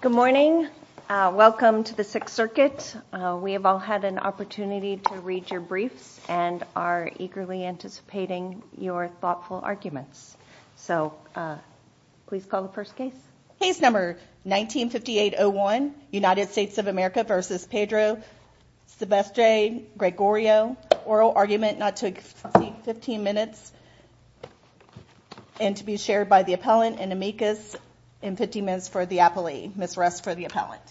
Good morning. Welcome to the Sixth Circuit. We have all had an opportunity to read your briefs and are eagerly anticipating your thoughtful arguments. So, please call the first case. Case number 1958-01, United States of America versus Pedro Silvestre-Gregorio. Oral argument not to exceed 15 minutes and to be shared by the appellant and amicus in 15 minutes for the appellee. Ms. Rust for the appellant.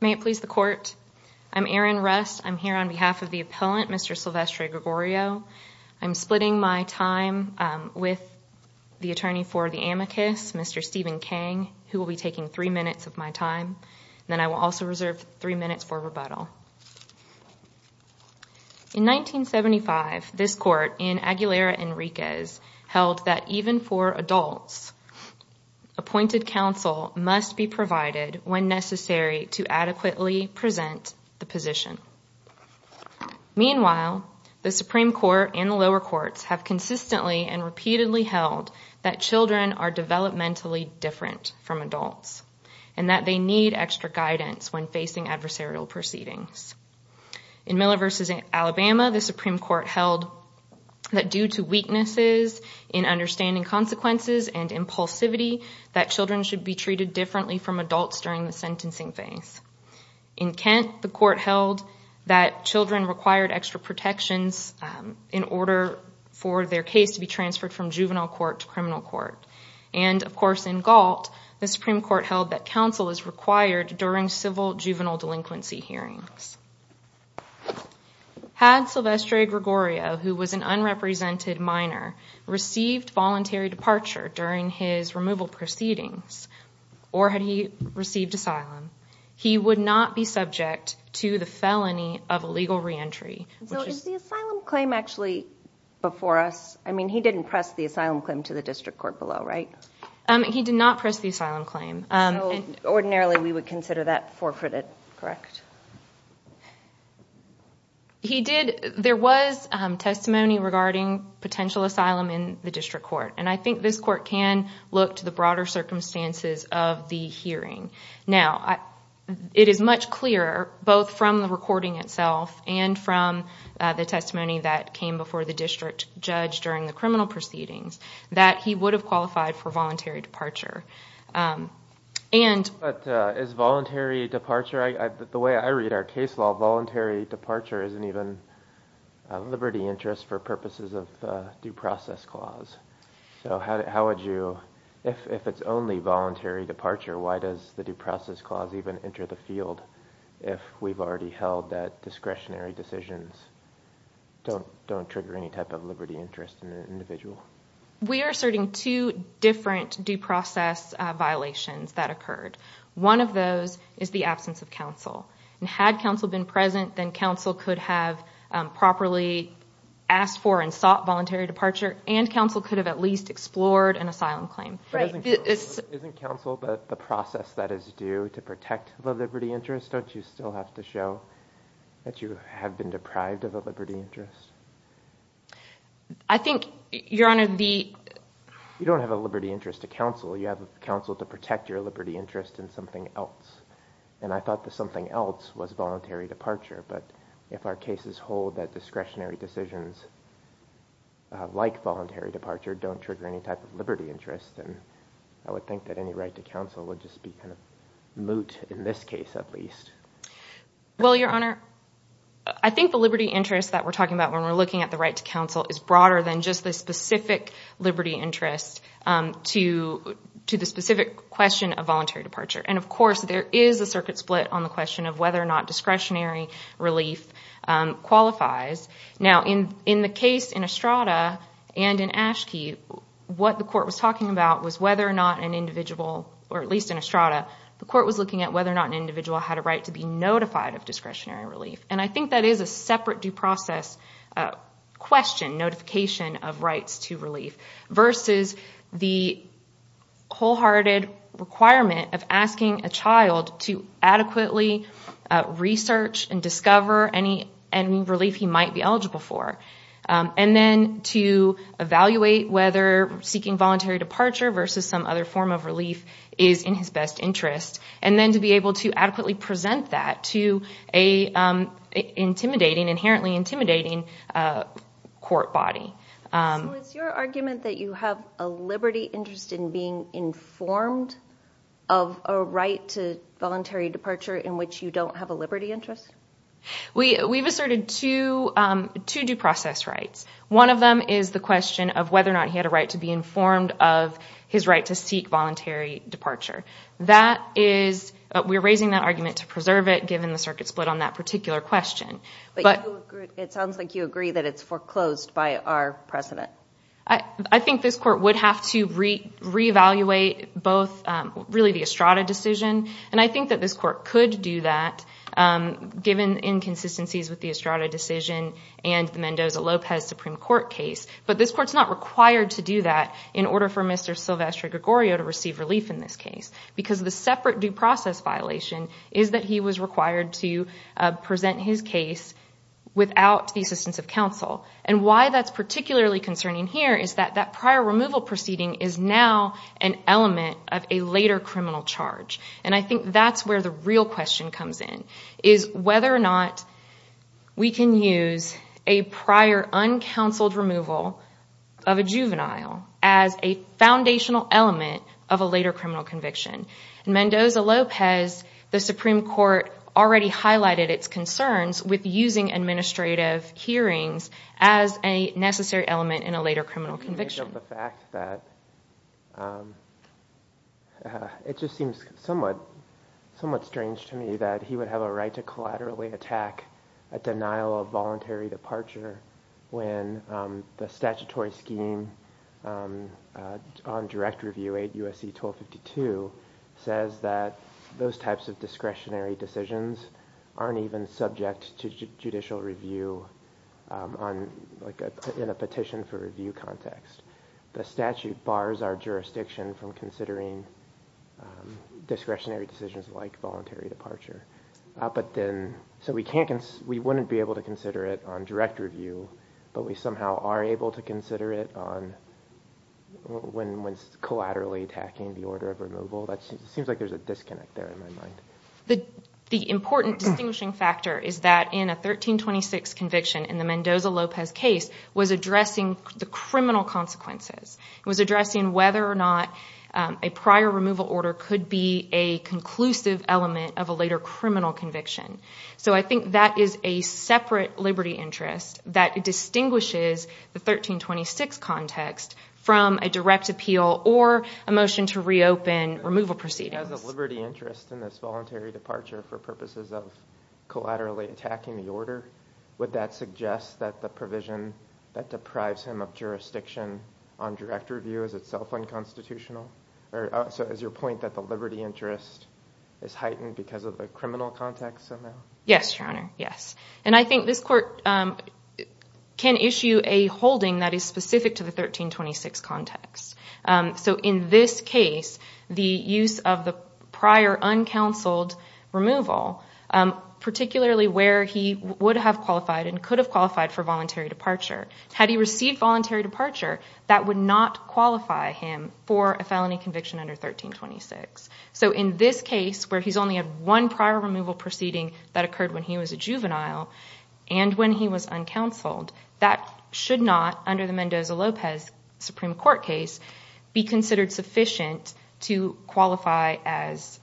May it please the court. I'm Erin Rust. I'm here on behalf of the appellant, Mr. Silvestre-Gregorio. I'm splitting my time with the attorney for the amicus, Mr. Stephen Kang, who will be taking three minutes of my time. Then I will also reserve three minutes for rebuttal. In 1975, this court in Aguilera Enriquez held that even for adults, appointed counsel must be provided when necessary to adequately present the position. Meanwhile, the Supreme Court and the lower courts have consistently and repeatedly held that children are facing adversarial proceedings. In Miller versus Alabama, the Supreme Court held that due to weaknesses in understanding consequences and impulsivity, that children should be treated differently from adults during the sentencing phase. In Kent, the court held that children required extra protections in order for their case to be transferred from juvenile court to criminal court. And, of civil juvenile delinquency hearings. Had Silvestre-Gregorio, who was an unrepresented minor, received voluntary departure during his removal proceedings, or had he received asylum, he would not be subject to the felony of illegal re-entry. Is the asylum claim actually before us? I mean, he didn't press the asylum claim to the district court below, right? He did not press the asylum claim. Ordinarily, we would consider that forfeited, correct? He did. There was testimony regarding potential asylum in the district court, and I think this court can look to the broader circumstances of the hearing. Now, it is much clearer, both from the recording itself and from the testimony that came before the district judge during the criminal proceedings, that he would have And... But is voluntary departure, the way I read our case law, voluntary departure isn't even a liberty interest for purposes of due process clause. So how would you, if it's only voluntary departure, why does the due process clause even enter the field, if we've already held that discretionary decisions don't trigger any type of liberty interest in an individual? We are asserting two different due process violations that occurred. One of those is the absence of counsel, and had counsel been present, then counsel could have properly asked for and sought voluntary departure, and counsel could have at least explored an asylum claim. Isn't counsel the process that is due to protect the liberty interest? Don't you still have to show that you don't have a liberty interest to counsel, you have counsel to protect your liberty interest in something else? And I thought that something else was voluntary departure, but if our cases hold that discretionary decisions, like voluntary departure, don't trigger any type of liberty interest, then I would think that any right to counsel would just be kind of moot, in this case at least. Well, Your Honor, I think the liberty interest that we're talking about when we're looking at the right to counsel is broader than just the specific liberty interest to the specific question of voluntary departure. And of course, there is a circuit split on the question of whether or not discretionary relief qualifies. Now, in the case in Estrada and in Ashkey, what the court was talking about was whether or not an individual, or at least in Estrada, the court was looking at whether or not an individual had a right to be notified of discretionary relief. And I think that is a separate due process question, notification of rights to relief, versus the wholehearted requirement of asking a child to adequately research and discover any relief he might be eligible for, and then to evaluate whether seeking voluntary departure versus some other form of relief is in his best interest, and then to be able to adequately present that to an inherently intimidating court body. So it's your argument that you have a liberty interest in being informed of a right to voluntary departure in which you don't have a liberty interest? We've asserted two due process rights. One of them is the question of whether or not he had a right to be informed of his right to seek voluntary departure. We're raising that argument to split on that particular question. But it sounds like you agree that it's foreclosed by our president. I think this court would have to re-evaluate both, really the Estrada decision, and I think that this court could do that given inconsistencies with the Estrada decision and the Mendoza-Lopez Supreme Court case. But this court's not required to do that in order for Mr. Silvestre Gregorio to receive relief in this case, because the separate due process violation is that he was required to present his case without the assistance of counsel. And why that's particularly concerning here is that that prior removal proceeding is now an element of a later criminal charge. And I think that's where the real question comes in, is whether or not we can use a prior uncounseled removal of a juvenile as a foundational element of a later criminal conviction. In Mendoza-Lopez, the Supreme Court already highlighted its concerns with using administrative hearings as a necessary element in a later criminal conviction. It just seems somewhat somewhat strange to me that he would have a right to collaterally attack a denial of voluntary departure when the statute says that those types of discretionary decisions aren't even subject to judicial review in a petition for review context. The statute bars our jurisdiction from considering discretionary decisions like voluntary departure. So we wouldn't be able to consider it on direct review, but we somehow are able to consider it on when it's collaterally attacking the order of removal. That seems like there's a disconnect there in my mind. The important distinguishing factor is that in a 1326 conviction in the Mendoza-Lopez case was addressing the criminal consequences. It was addressing whether or not a prior removal order could be a conclusive element of a later criminal conviction. So I think that is a separate liberty interest that distinguishes the 1326 context from a direct appeal or a motion to reopen removal proceedings. As a liberty interest in this voluntary departure for purposes of collaterally attacking the order, would that suggest that the provision that deprives him of jurisdiction on direct review is itself unconstitutional? So is your point that the liberty interest is heightened because of the criminal context? Yes, Your Honor. I think this court can issue a holding that is specific to the 1326 context. So in this case, the use of the prior uncounseled removal, particularly where he would have qualified and could have qualified for voluntary departure, had he received voluntary departure, that would not qualify him for a felony conviction under 1326. So in this case where he's only had one prior removal proceeding that occurred when he was a juvenile and when he was uncounseled, that should not, under the Mendoza-Lopez Supreme Court case, be considered sufficient to qualify as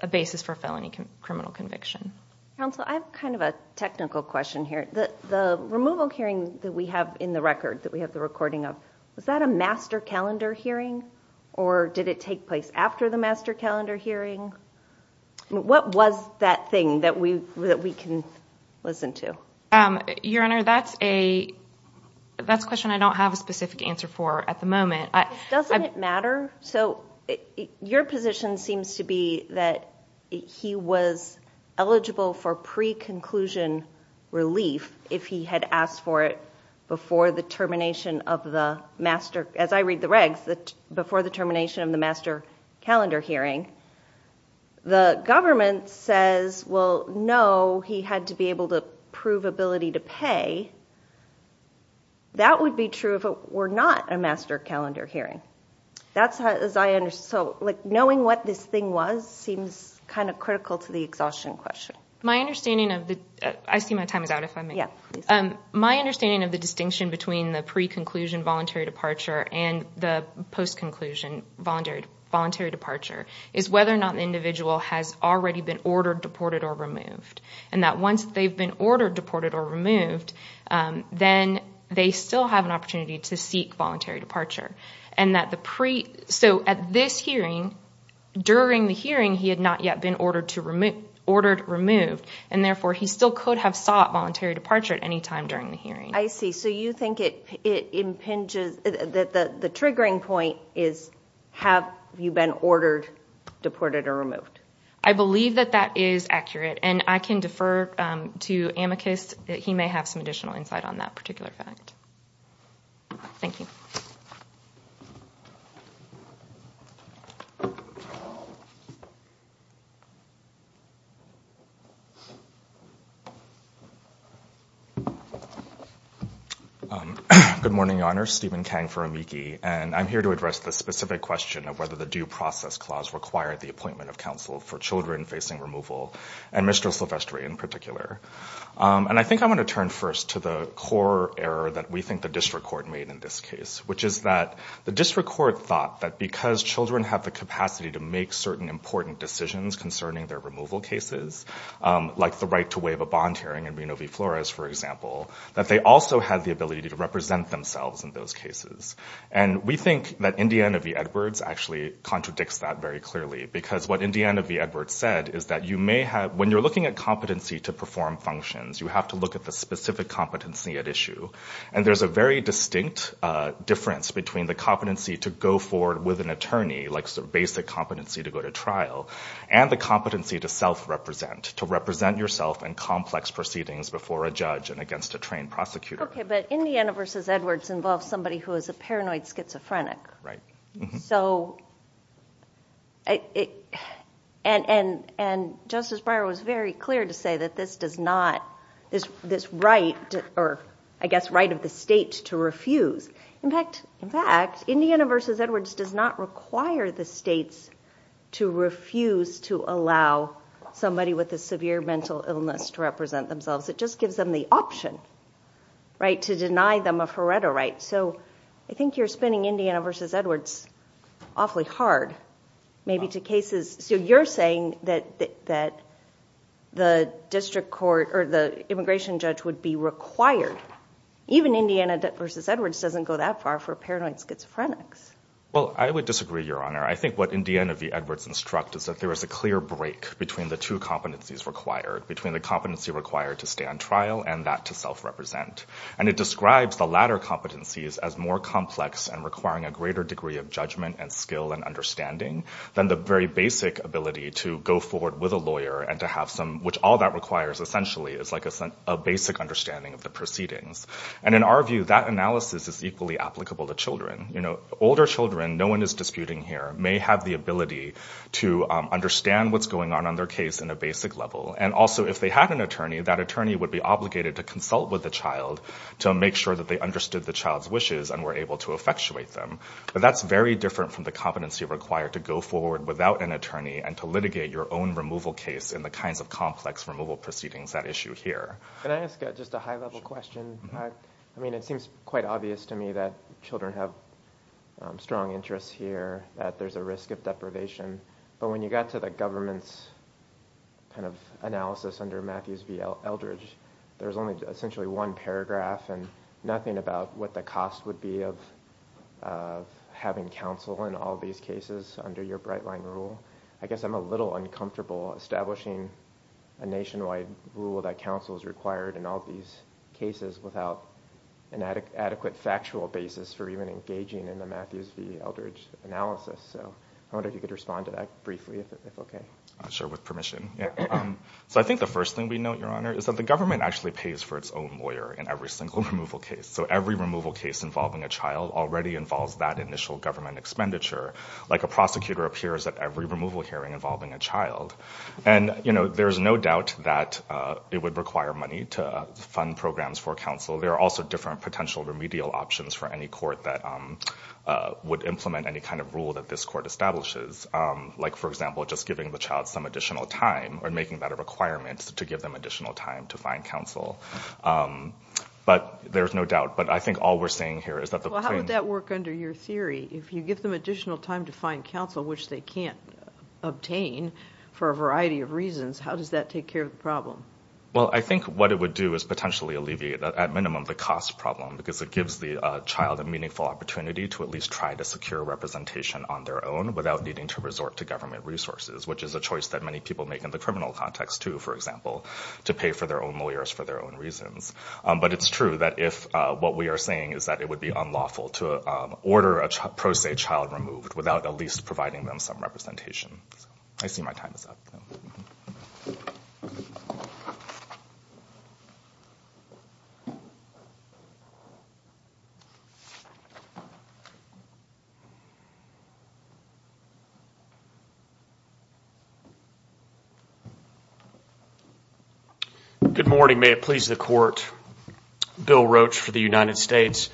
a basis for felony criminal conviction. Counsel, I have kind of a technical question here. The removal hearing that we have in the record, that we have the recording of, was that a master calendar hearing or did it take place after the master calendar hearing? What was that thing that we can listen to? Your Honor, that's a question I don't have a specific answer for at the moment. Doesn't it matter? So your position seems to be that he was eligible for pre-conclusion relief if he had asked for it before the termination of the master, as I read the regs, before the termination of the master calendar hearing. The government says, well, no, he had to be able to prove ability to pay. That would be true if it were not a master calendar hearing. That's how, as I understand, so like knowing what this thing was seems kind of critical to the exhaustion question. My understanding of the, I see my time is My understanding of the distinction between the pre-conclusion voluntary departure and the post-conclusion voluntary departure is whether or not the individual has already been ordered, deported, or removed. And that once they've been ordered, deported, or removed, then they still have an opportunity to seek voluntary departure. So at this hearing, during the hearing, he had not yet been ordered removed and therefore he still could have sought voluntary departure at any time during the hearing. I see, so you think it impinges, the triggering point is, have you been ordered, deported, or removed? I believe that that is accurate and I can defer to amicus. He may have some additional insight on that particular fact. Thank you. Good morning, Your Honor. Stephen Kang for amici, and I'm here to address the specific question of whether the due process clause required the appointment of counsel for children facing removal, and Mr. Silvestri in particular. And I think I'm going to turn first to the core error that we think the district court made in this case, which is that the district court thought that because children have the capacity to make certain important decisions concerning their removal cases, like the right to waive a bond hearing in Reno v. Flores, for example, that they also have the ability to represent themselves in those cases. And we think that Indiana v. Edwards actually contradicts that very clearly, because what Indiana v. Edwards said is that you may have, when you're looking at competency to perform functions, you have to look at the specific competency at issue. And there's a very distinct difference between the competency to go forward with an attorney, like basic competency to go to self-represent, to represent yourself in complex proceedings before a judge and against a trained prosecutor. Okay, but Indiana v. Edwards involves somebody who is a paranoid schizophrenic. Right. So, and Justice Breyer was very clear to say that this does not, this right, or I guess right of the state to refuse. In fact, Indiana v. Edwards does not require the states to allow somebody with a severe mental illness to represent themselves. It just gives them the option, right, to deny them a Faretto right. So, I think you're spinning Indiana v. Edwards awfully hard, maybe to cases, so you're saying that the district court or the immigration judge would be required. Even Indiana v. Edwards doesn't go that far for paranoid schizophrenics. Well, I would disagree, Your Honor. I think what Indiana v. Edwards instruct is that there is a clear break between the two competencies required, between the competency required to stand trial and that to self-represent. And it describes the latter competencies as more complex and requiring a greater degree of judgment and skill and understanding than the very basic ability to go forward with a lawyer and to have some, which all that requires essentially is like a basic understanding of the proceedings. And in our view, that analysis is equally applicable to children. You know, older children, no one is disputing here, may have the ability to understand what's going on on their case in a basic level. And also, if they had an attorney, that attorney would be obligated to consult with the child to make sure that they understood the child's wishes and were able to effectuate them. But that's very different from the competency required to go forward without an attorney and to litigate your own removal case in the kinds of complex removal proceedings that issue here. Can I ask just a high-level question? I mean, it seems quite obvious to me that children have strong interests here, that there's a risk of deprivation. But when you got to the government's kind of analysis under Matthews v. Eldridge, there's only essentially one paragraph and nothing about what the cost would be of having counsel in all these cases under your Brightline rule. I guess I'm a little uncomfortable establishing a nationwide rule that counsel is required in all these cases without an adequate factual basis for even engaging in the Matthews v. Eldridge analysis. So I wonder if you could respond to that briefly, if okay. Sure, with permission. So I think the first thing we note, Your Honor, is that the government actually pays for its own lawyer in every single removal case. So every removal case involving a child already involves that initial government expenditure. Like a prosecutor appears at every removal hearing involving a child. And, you know, there's no doubt that it would require money to fund programs for counsel. There are also different potential remedial options for any court that would implement any kind of rule that this court establishes. Like, for example, just giving the child some additional time, or making that a requirement to give them additional time to find counsel. But there's no doubt. But I think all we're saying here is that the How would that work under your theory? If you give them additional time to find counsel, which they can't obtain for a variety of reasons, how does that take care of the problem? Well, I think what it would do is potentially alleviate, at minimum, the cost problem. Because it gives the child a meaningful opportunity to at least try to secure representation on their own without needing to resort to government resources. Which is a choice that many people make in the criminal context, too, for example. To pay for their own lawyers for their own reasons. But it's true that if what we are saying is that it would be unlawful to order a pro se child removed without at least providing them some information. Good morning. May it please the court. Bill Roach for the United States.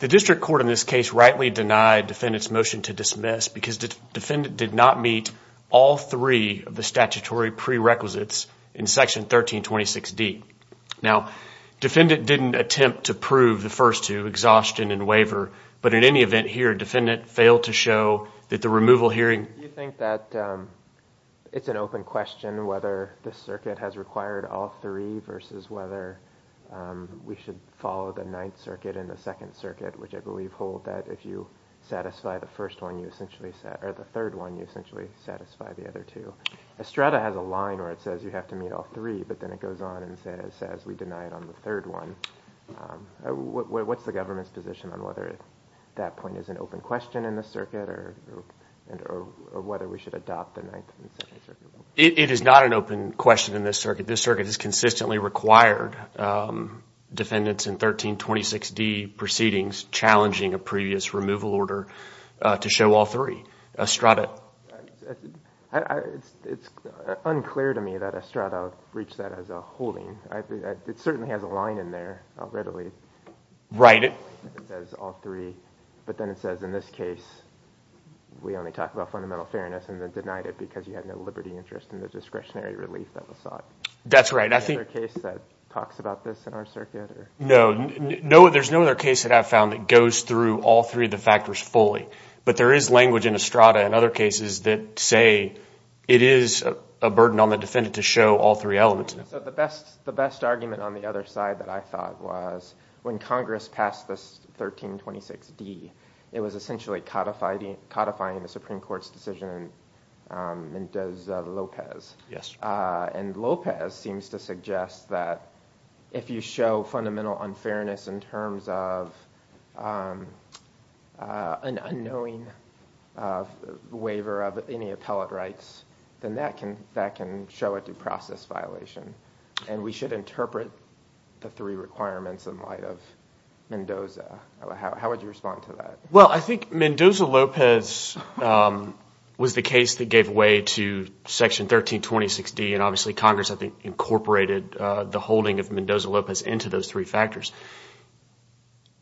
The district court in this case rightly denied defendant's motion to dismiss because the defendant did not meet all three of the statutory prerequisites in section 1326 D. Now, defendant didn't attempt to prove the first two, exhaustion and waiver. But in any event here, defendant failed to show that the removal hearing... Do you think that it's an open question whether this circuit has required all three versus whether we should follow the Ninth Circuit and the Second Circuit, which I believe hold that if you satisfy the first one, you essentially satisfy the other two. Estrada has a line where it says you have to meet all three, but then it goes on and says we deny it on the third one. What's the government's position on whether that point is an open question in the circuit or whether we should adopt the Ninth and Second Circuit? It is not an open question in this circuit. This circuit has consistently required defendants in 1326 D proceedings challenging a previous removal order to show all three. Estrada... It's unclear to me that Estrada reached that as a holding. It certainly has a line in there readily. Right. It says all three, but then it says in this case we only talk about fundamental fairness and then denied it because you had no liberty interest in the discretionary relief that was sought. That's right. I think... Is there a case that talks about this in our case that I've found that goes through all three of the factors fully, but there is language in Estrada and other cases that say it is a burden on the defendant to show all three elements. The best argument on the other side that I thought was when Congress passed this 1326 D, it was essentially codifying the Supreme Court's decision and does Lopez. Yes. And Lopez seems to have an unknowing waiver of any appellate rights, then that can show a due process violation and we should interpret the three requirements in light of Mendoza. How would you respond to that? Well, I think Mendoza-Lopez was the case that gave way to Section 1326 D and obviously Congress I think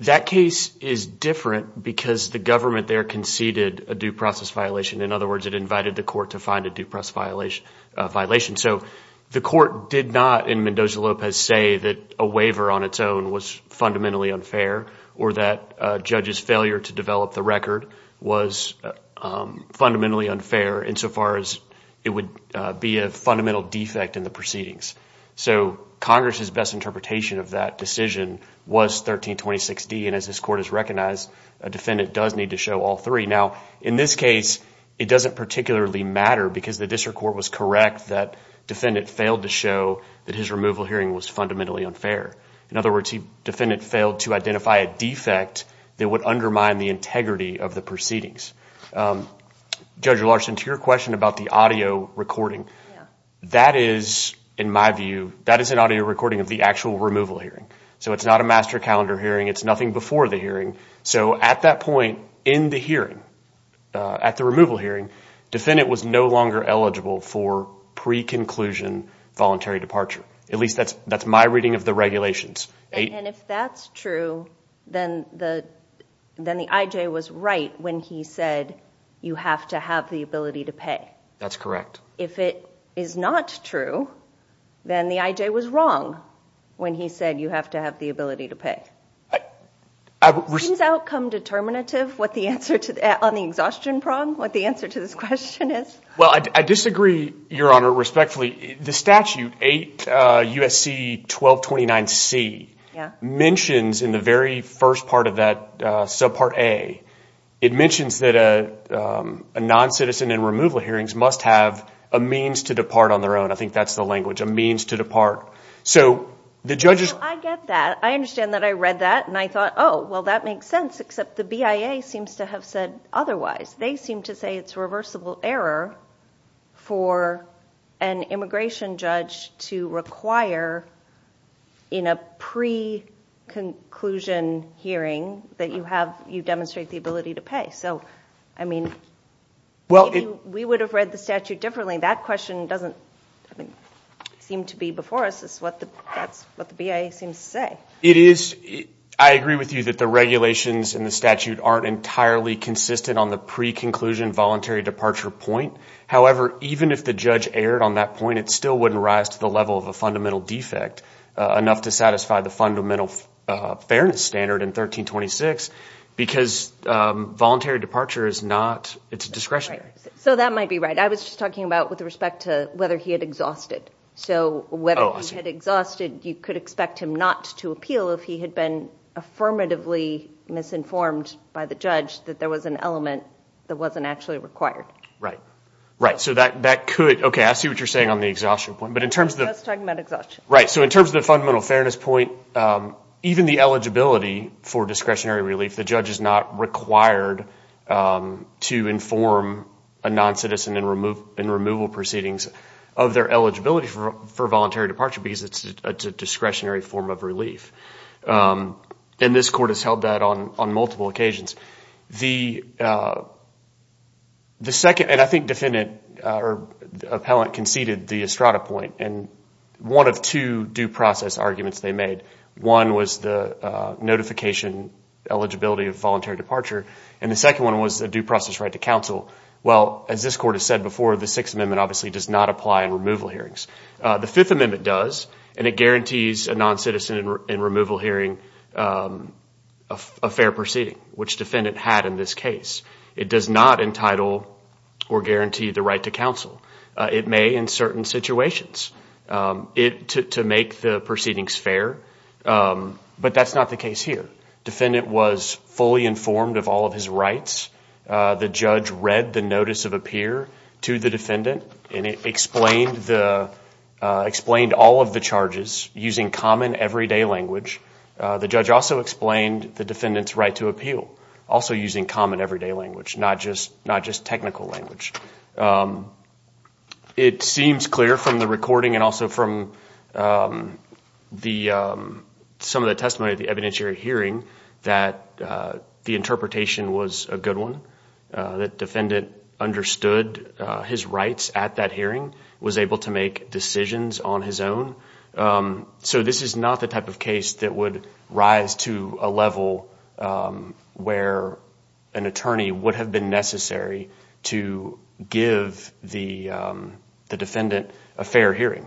that case is different because the government there conceded a due process violation. In other words, it invited the court to find a due process violation. So the court did not in Mendoza-Lopez say that a waiver on its own was fundamentally unfair or that judges failure to develop the record was fundamentally unfair insofar as it would be a fundamental defect in the proceedings. So Congress's best interpretation of that decision was 1326 D and as this court has recognized, a defendant does need to show all three. Now in this case, it doesn't particularly matter because the district court was correct that defendant failed to show that his removal hearing was fundamentally unfair. In other words, the defendant failed to identify a defect that would undermine the integrity of the proceedings. Judge Larson, to your question about the audio recording, that is in my view, that is an audio recording of the actual removal hearing. So it's not a master calendar hearing, it's nothing before the hearing. So at that point in the hearing, at the removal hearing, defendant was no longer eligible for pre-conclusion voluntary departure. At least that's that's my reading of the regulations. And if that's true, then the then the IJ was right when he said you have to have the ability to pay. That's correct. If it is not true, then the IJ was wrong when he said you have to have the ability to pay. Seems outcome determinative on the exhaustion prong, what the answer to this question is. Well, I disagree, Your Honor, respectfully. The statute 8 U.S.C. 1229 C mentions in the very first part of that subpart A, it mentions that a non-citizen and removal hearings must have a means to depart on their own. I think that's the language, a means to depart. I understand that I read that, and I thought, oh, well, that makes sense, except the BIA seems to have said otherwise. They seem to say it's reversible error for an immigration judge to require in a pre-conclusion hearing that you have, you demonstrate the ability to pay. So, I mean, we would have read the statute differently. That question doesn't seem to be before us, is what the BIA seems to say. It is. I agree with you that the regulations in the statute aren't entirely consistent on the pre-conclusion voluntary departure point. However, even if the judge erred on that point, it still wouldn't rise to the level of a fundamental defect enough to satisfy the fundamental fairness standard in 1326 because voluntary departure is not, it's a discretionary. So that might be right. I was just talking about with respect to whether he had exhausted. So, whether he had exhausted, you could expect him not to appeal if he had been affirmatively misinformed by the judge that there was an element that wasn't actually required. Right, right. So that could, okay, I see what you're saying on the exhaustion point, but in terms of... I was talking about exhaustion. Right, so in terms of the fundamental fairness point, even the eligibility for discretionary relief, the judge is not required to inform a non-citizen in removal proceedings of their eligibility for voluntary departure because it's a discretionary form of relief. And this court has held that on multiple occasions. The second, and I think defendant or appellant conceded the Estrada point, and one of two due process arguments they made. One was the notification eligibility of voluntary departure, and the second one was a due process right to counsel. Well, as this court has said before, the Sixth Amendment obviously does not apply in removal hearings. The Fifth Amendment does, and it guarantees a non-citizen in removal hearing a fair proceeding, which defendant had in this case. It does not entitle or guarantee the right to counsel. It may in certain situations, to make the proceedings fair, but that's not the case here. Defendant was fully informed of all of his rights. The judge read the notice of appear to the defendant, and it explained all of the charges using common everyday language. The judge also explained the defendant's right to appeal, also using common everyday language, not just technical language. It seems clear from the recording and also from some of the testimony at the evidentiary hearing that the interpretation was a defendant understood his rights at that hearing, was able to make decisions on his own. So this is not the type of case that would rise to a level where an attorney would have been necessary to give the the defendant a fair hearing.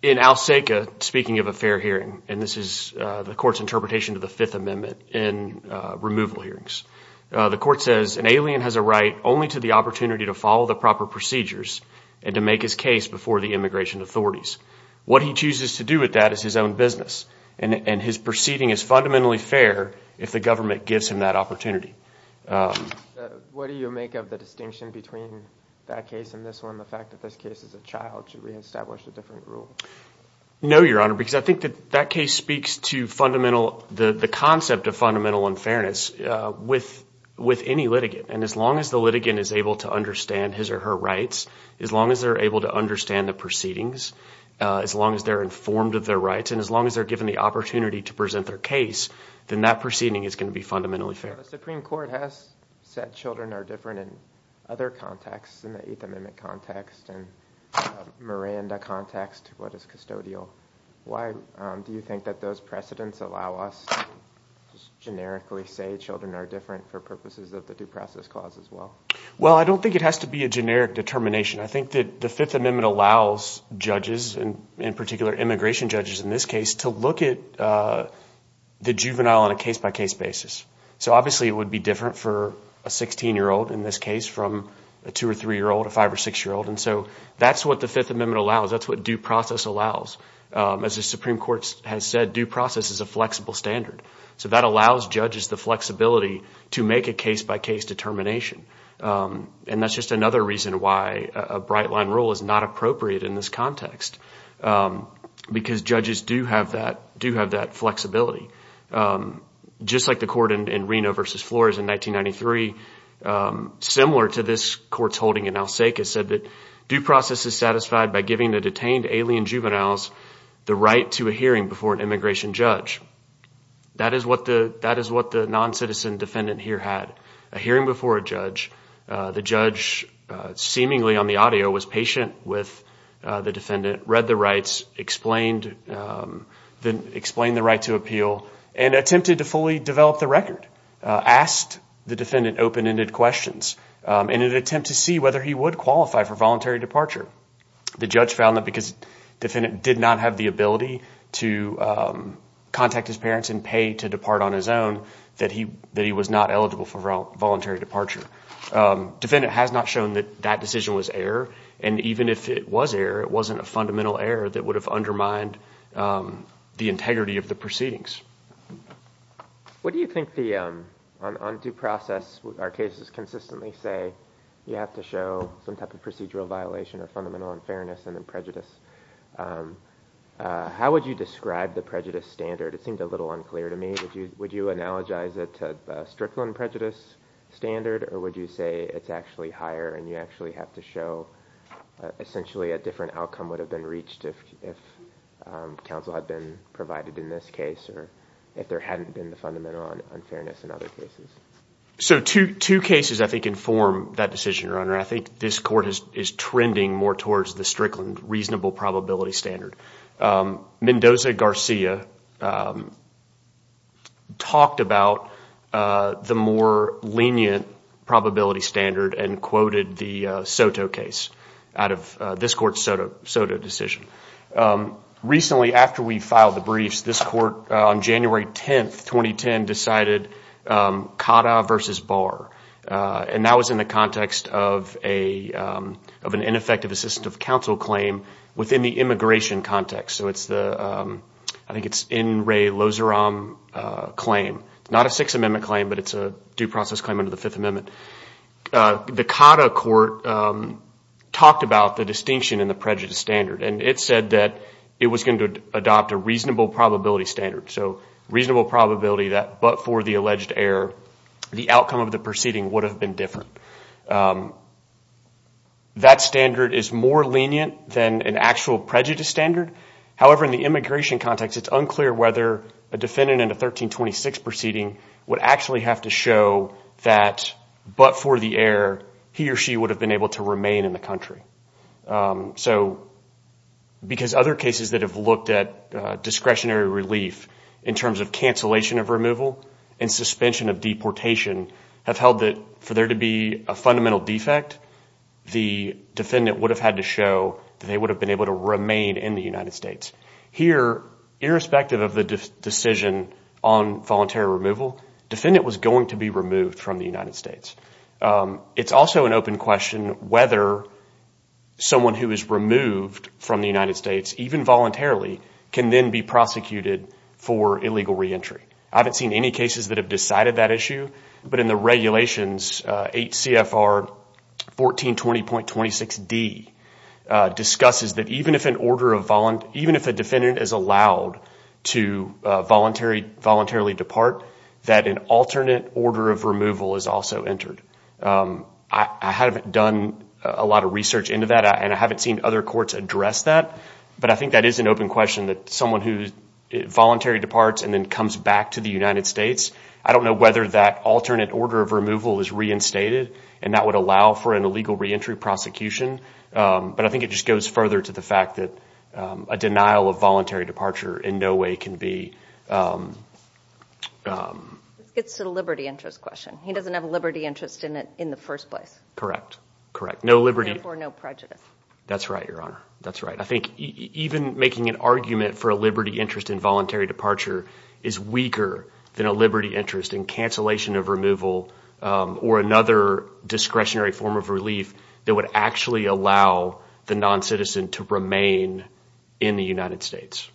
In Al Seica, speaking of a fair hearing, and this is the court's fifth amendment in removal hearings, the court says an alien has a right only to the opportunity to follow the proper procedures and to make his case before the immigration authorities. What he chooses to do with that is his own business, and his proceeding is fundamentally fair if the government gives him that opportunity. What do you make of the distinction between that case and this one? The fact that this case is a child, should we establish a different rule? No, your honor, because I think that that case speaks to the concept of fundamental unfairness with any litigant, and as long as the litigant is able to understand his or her rights, as long as they're able to understand the proceedings, as long as they're informed of their rights, and as long as they're given the opportunity to present their case, then that proceeding is going to be fundamentally fair. The Supreme Court has said children are different in other contexts, in the Eighth Amendment context and Miranda context, what is custodial. Why do you think that those precedents allow us to generically say children are different for purposes of the due process clause as well? Well, I don't think it has to be a generic determination. I think that the Fifth Amendment allows judges, and in particular immigration judges in this case, to look at the juvenile on a case-by-case basis. So obviously it would be different for a 16-year-old in this case from a two or three-year-old, a juvenile. So that's what due process allows. As the Supreme Court has said, due process is a flexible standard. So that allows judges the flexibility to make a case-by-case determination. And that's just another reason why a bright-line rule is not appropriate in this context, because judges do have that flexibility. Just like the court in Reno v. Flores in 1993, similar to this court's holding in El Seca, said that due process is satisfied by giving the detained alien juveniles the right to a hearing before an immigration judge. That is what the non-citizen defendant here had, a hearing before a judge. The judge, seemingly on the audio, was patient with the defendant, read the rights, explained the right to appeal, and attempted to fully develop the record, asked the defendant open-ended questions in an attempt to see whether he would qualify for voluntary departure. The judge found that because defendant did not have the ability to contact his parents and pay to depart on his own, that he was not eligible for voluntary departure. Defendant has not shown that that decision was error, and even if it was error, it wasn't a fundamental error that would have undermined the integrity of the proceedings. What do you think the, on due process, our cases consistently say you have to show some type of procedural violation or fundamental unfairness and then prejudice. How would you describe the prejudice standard? It seemed a little unclear to me. Would you analogize it to the Strickland prejudice standard, or would you say it's actually higher and you actually have to show essentially a different outcome would have been reached if counsel had been provided in this case, or if there hadn't been the fundamental unfairness in So two cases I think inform that decision, Your Honor. I think this court is trending more towards the Strickland reasonable probability standard. Mendoza Garcia talked about the more lenient probability standard and quoted the SOTO case out of this court's SOTO decision. Recently, after we filed the briefs, this court on January 10, 2010, decided CADA versus BARR, and that was in the context of an ineffective assistive counsel claim within the immigration context. So it's the, I think it's N. Ray Lozarum claim. It's not a Sixth Amendment claim, but it's a due process claim under the Fifth Amendment. The CADA court talked about the distinction in the prejudice standard, and it said that it was going to adopt a reasonable probability standard. So reasonable probability that but for the alleged error, the outcome of the proceeding would have been different. That standard is more lenient than an actual prejudice standard. However, in the immigration context, it's unclear whether a defendant in a 1326 proceeding would actually have to show that but for the error, he or she would have been able to remain in the country. So because other cases that have looked at discretionary relief in terms of cancellation of removal and suspension of deportation have held that for there to be a fundamental defect, the defendant would have had to show that they would have been able to remain in the United States. Here, irrespective of the decision on voluntary removal, defendant was going to be removed from the United States. It's also an open question whether someone who is removed from the United States, even voluntarily, can then be prosecuted for illegal re-entry. I haven't seen any cases that have decided that issue, but in the regulations, 8 CFR 1420.26d discusses that even if a defendant is allowed to voluntarily depart, that an alternate order of removal is also re-entered. I haven't done a lot of research into that and I haven't seen other courts address that, but I think that is an open question that someone who voluntarily departs and then comes back to the United States, I don't know whether that alternate order of removal is reinstated and that would allow for an illegal re-entry prosecution, but I think it just goes further to the fact that a denial of voluntary departure in no way can be... It's a liberty interest question. He doesn't have a liberty interest in it in the first place. Correct, correct. No liberty or no prejudice. That's right, Your Honor. That's right. I think even making an argument for a liberty interest in voluntary departure is weaker than a liberty interest in cancellation of removal or another discretionary form of relief that would actually allow the non-citizen to remain in the United States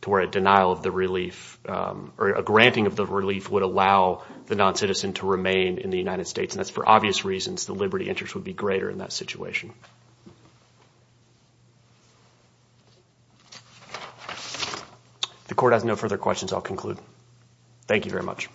to where a denial of the relief or a granting of the relief would allow the non-citizen to remain in the United States and that's for obvious reasons the liberty interest would be greater in that situation. The court has no further questions. I'll conclude. Thank you very much.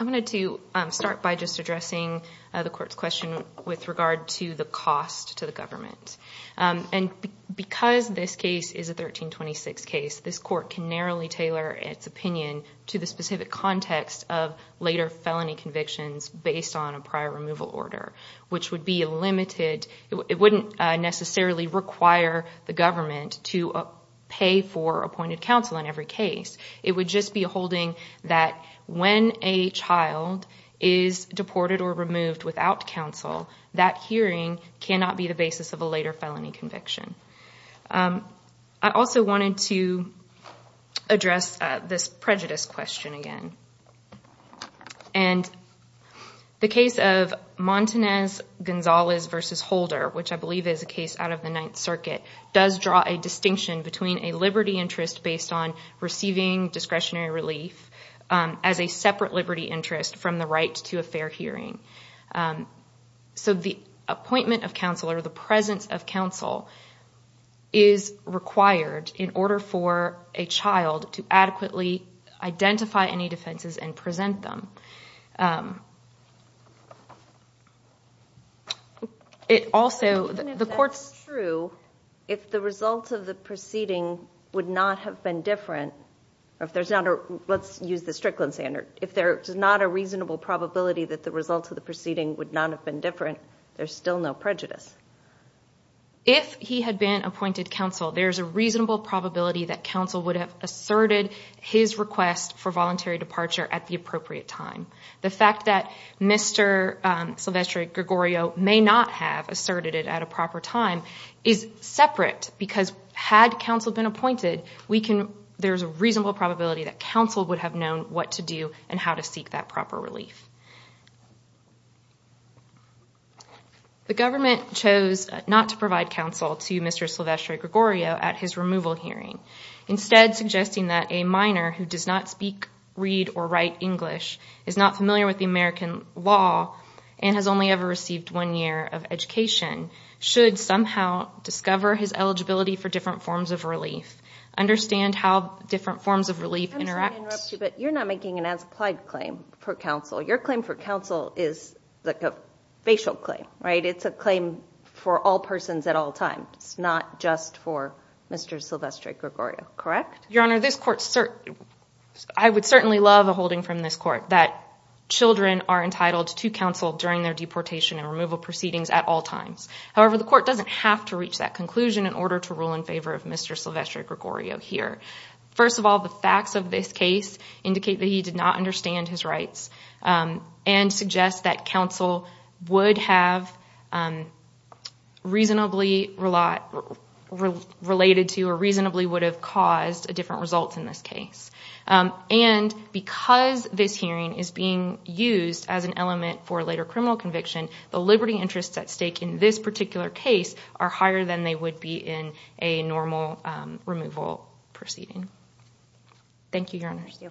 I'm going to start by just addressing the court's question with regard to the cost to the government and because this case is a 1326 case, this court can narrowly tailor its opinion to the specific context of later felony convictions based on a prior removal order, which would be a limited... It wouldn't necessarily require the government to pay for appointed counsel in every case. It would just be holding that when a child is deported or removed without counsel, that hearing cannot be the basis of a later felony conviction. I also wanted to address this prejudice question again. The case of Montanez- Gonzalez v. Holder, which I believe is a case out of the Ninth Circuit, does draw a distinction between a liberty interest based on receiving discretionary relief as a separate liberty interest from the right to a fair hearing. So the appointment of counsel or the presence of counsel is required in order for a child to adequately identify any defenses and present them. It also... If that's true, if the result of the proceeding would not have been different, or if there's not a... Let's use the Strickland standard. If there is not a reasonable probability that the result of the proceeding would not have been different, there's still no prejudice. If he had been appointed counsel, there's a reasonable probability that counsel would have asserted his request for voluntary departure at the appropriate time. The fact that Mr. Silvestre Gregorio may not have asserted it at a proper time is separate because had counsel been appointed, there's a reasonable probability that counsel would have known what to do and how to seek that proper relief. The government chose not to provide counsel to Mr. Silvestre Gregorio at his removal hearing, instead suggesting that a minor who does not speak, read, or write English, is not familiar with the American law, and has only ever received one year of education, should somehow discover his eligibility for different forms of relief, understand how different forms of relief interact... I'm sorry to interrupt you, but you're not making an as-applied claim for facial claim, right? It's a claim for all persons at all times, it's not just for Mr. Silvestre Gregorio, correct? Your Honor, I would certainly love a holding from this court that children are entitled to counsel during their deportation and removal proceedings at all times. However, the court doesn't have to reach that conclusion in order to rule in favor of Mr. Silvestre Gregorio here. First of all, the facts of this case indicate that he did not understand his would have reasonably related to, or reasonably would have caused, a different result in this case. And because this hearing is being used as an element for a later criminal conviction, the liberty interests at stake in this particular case are higher than they would be in a normal removal proceeding. Thank you, Your Honor. Thank you. Thank you.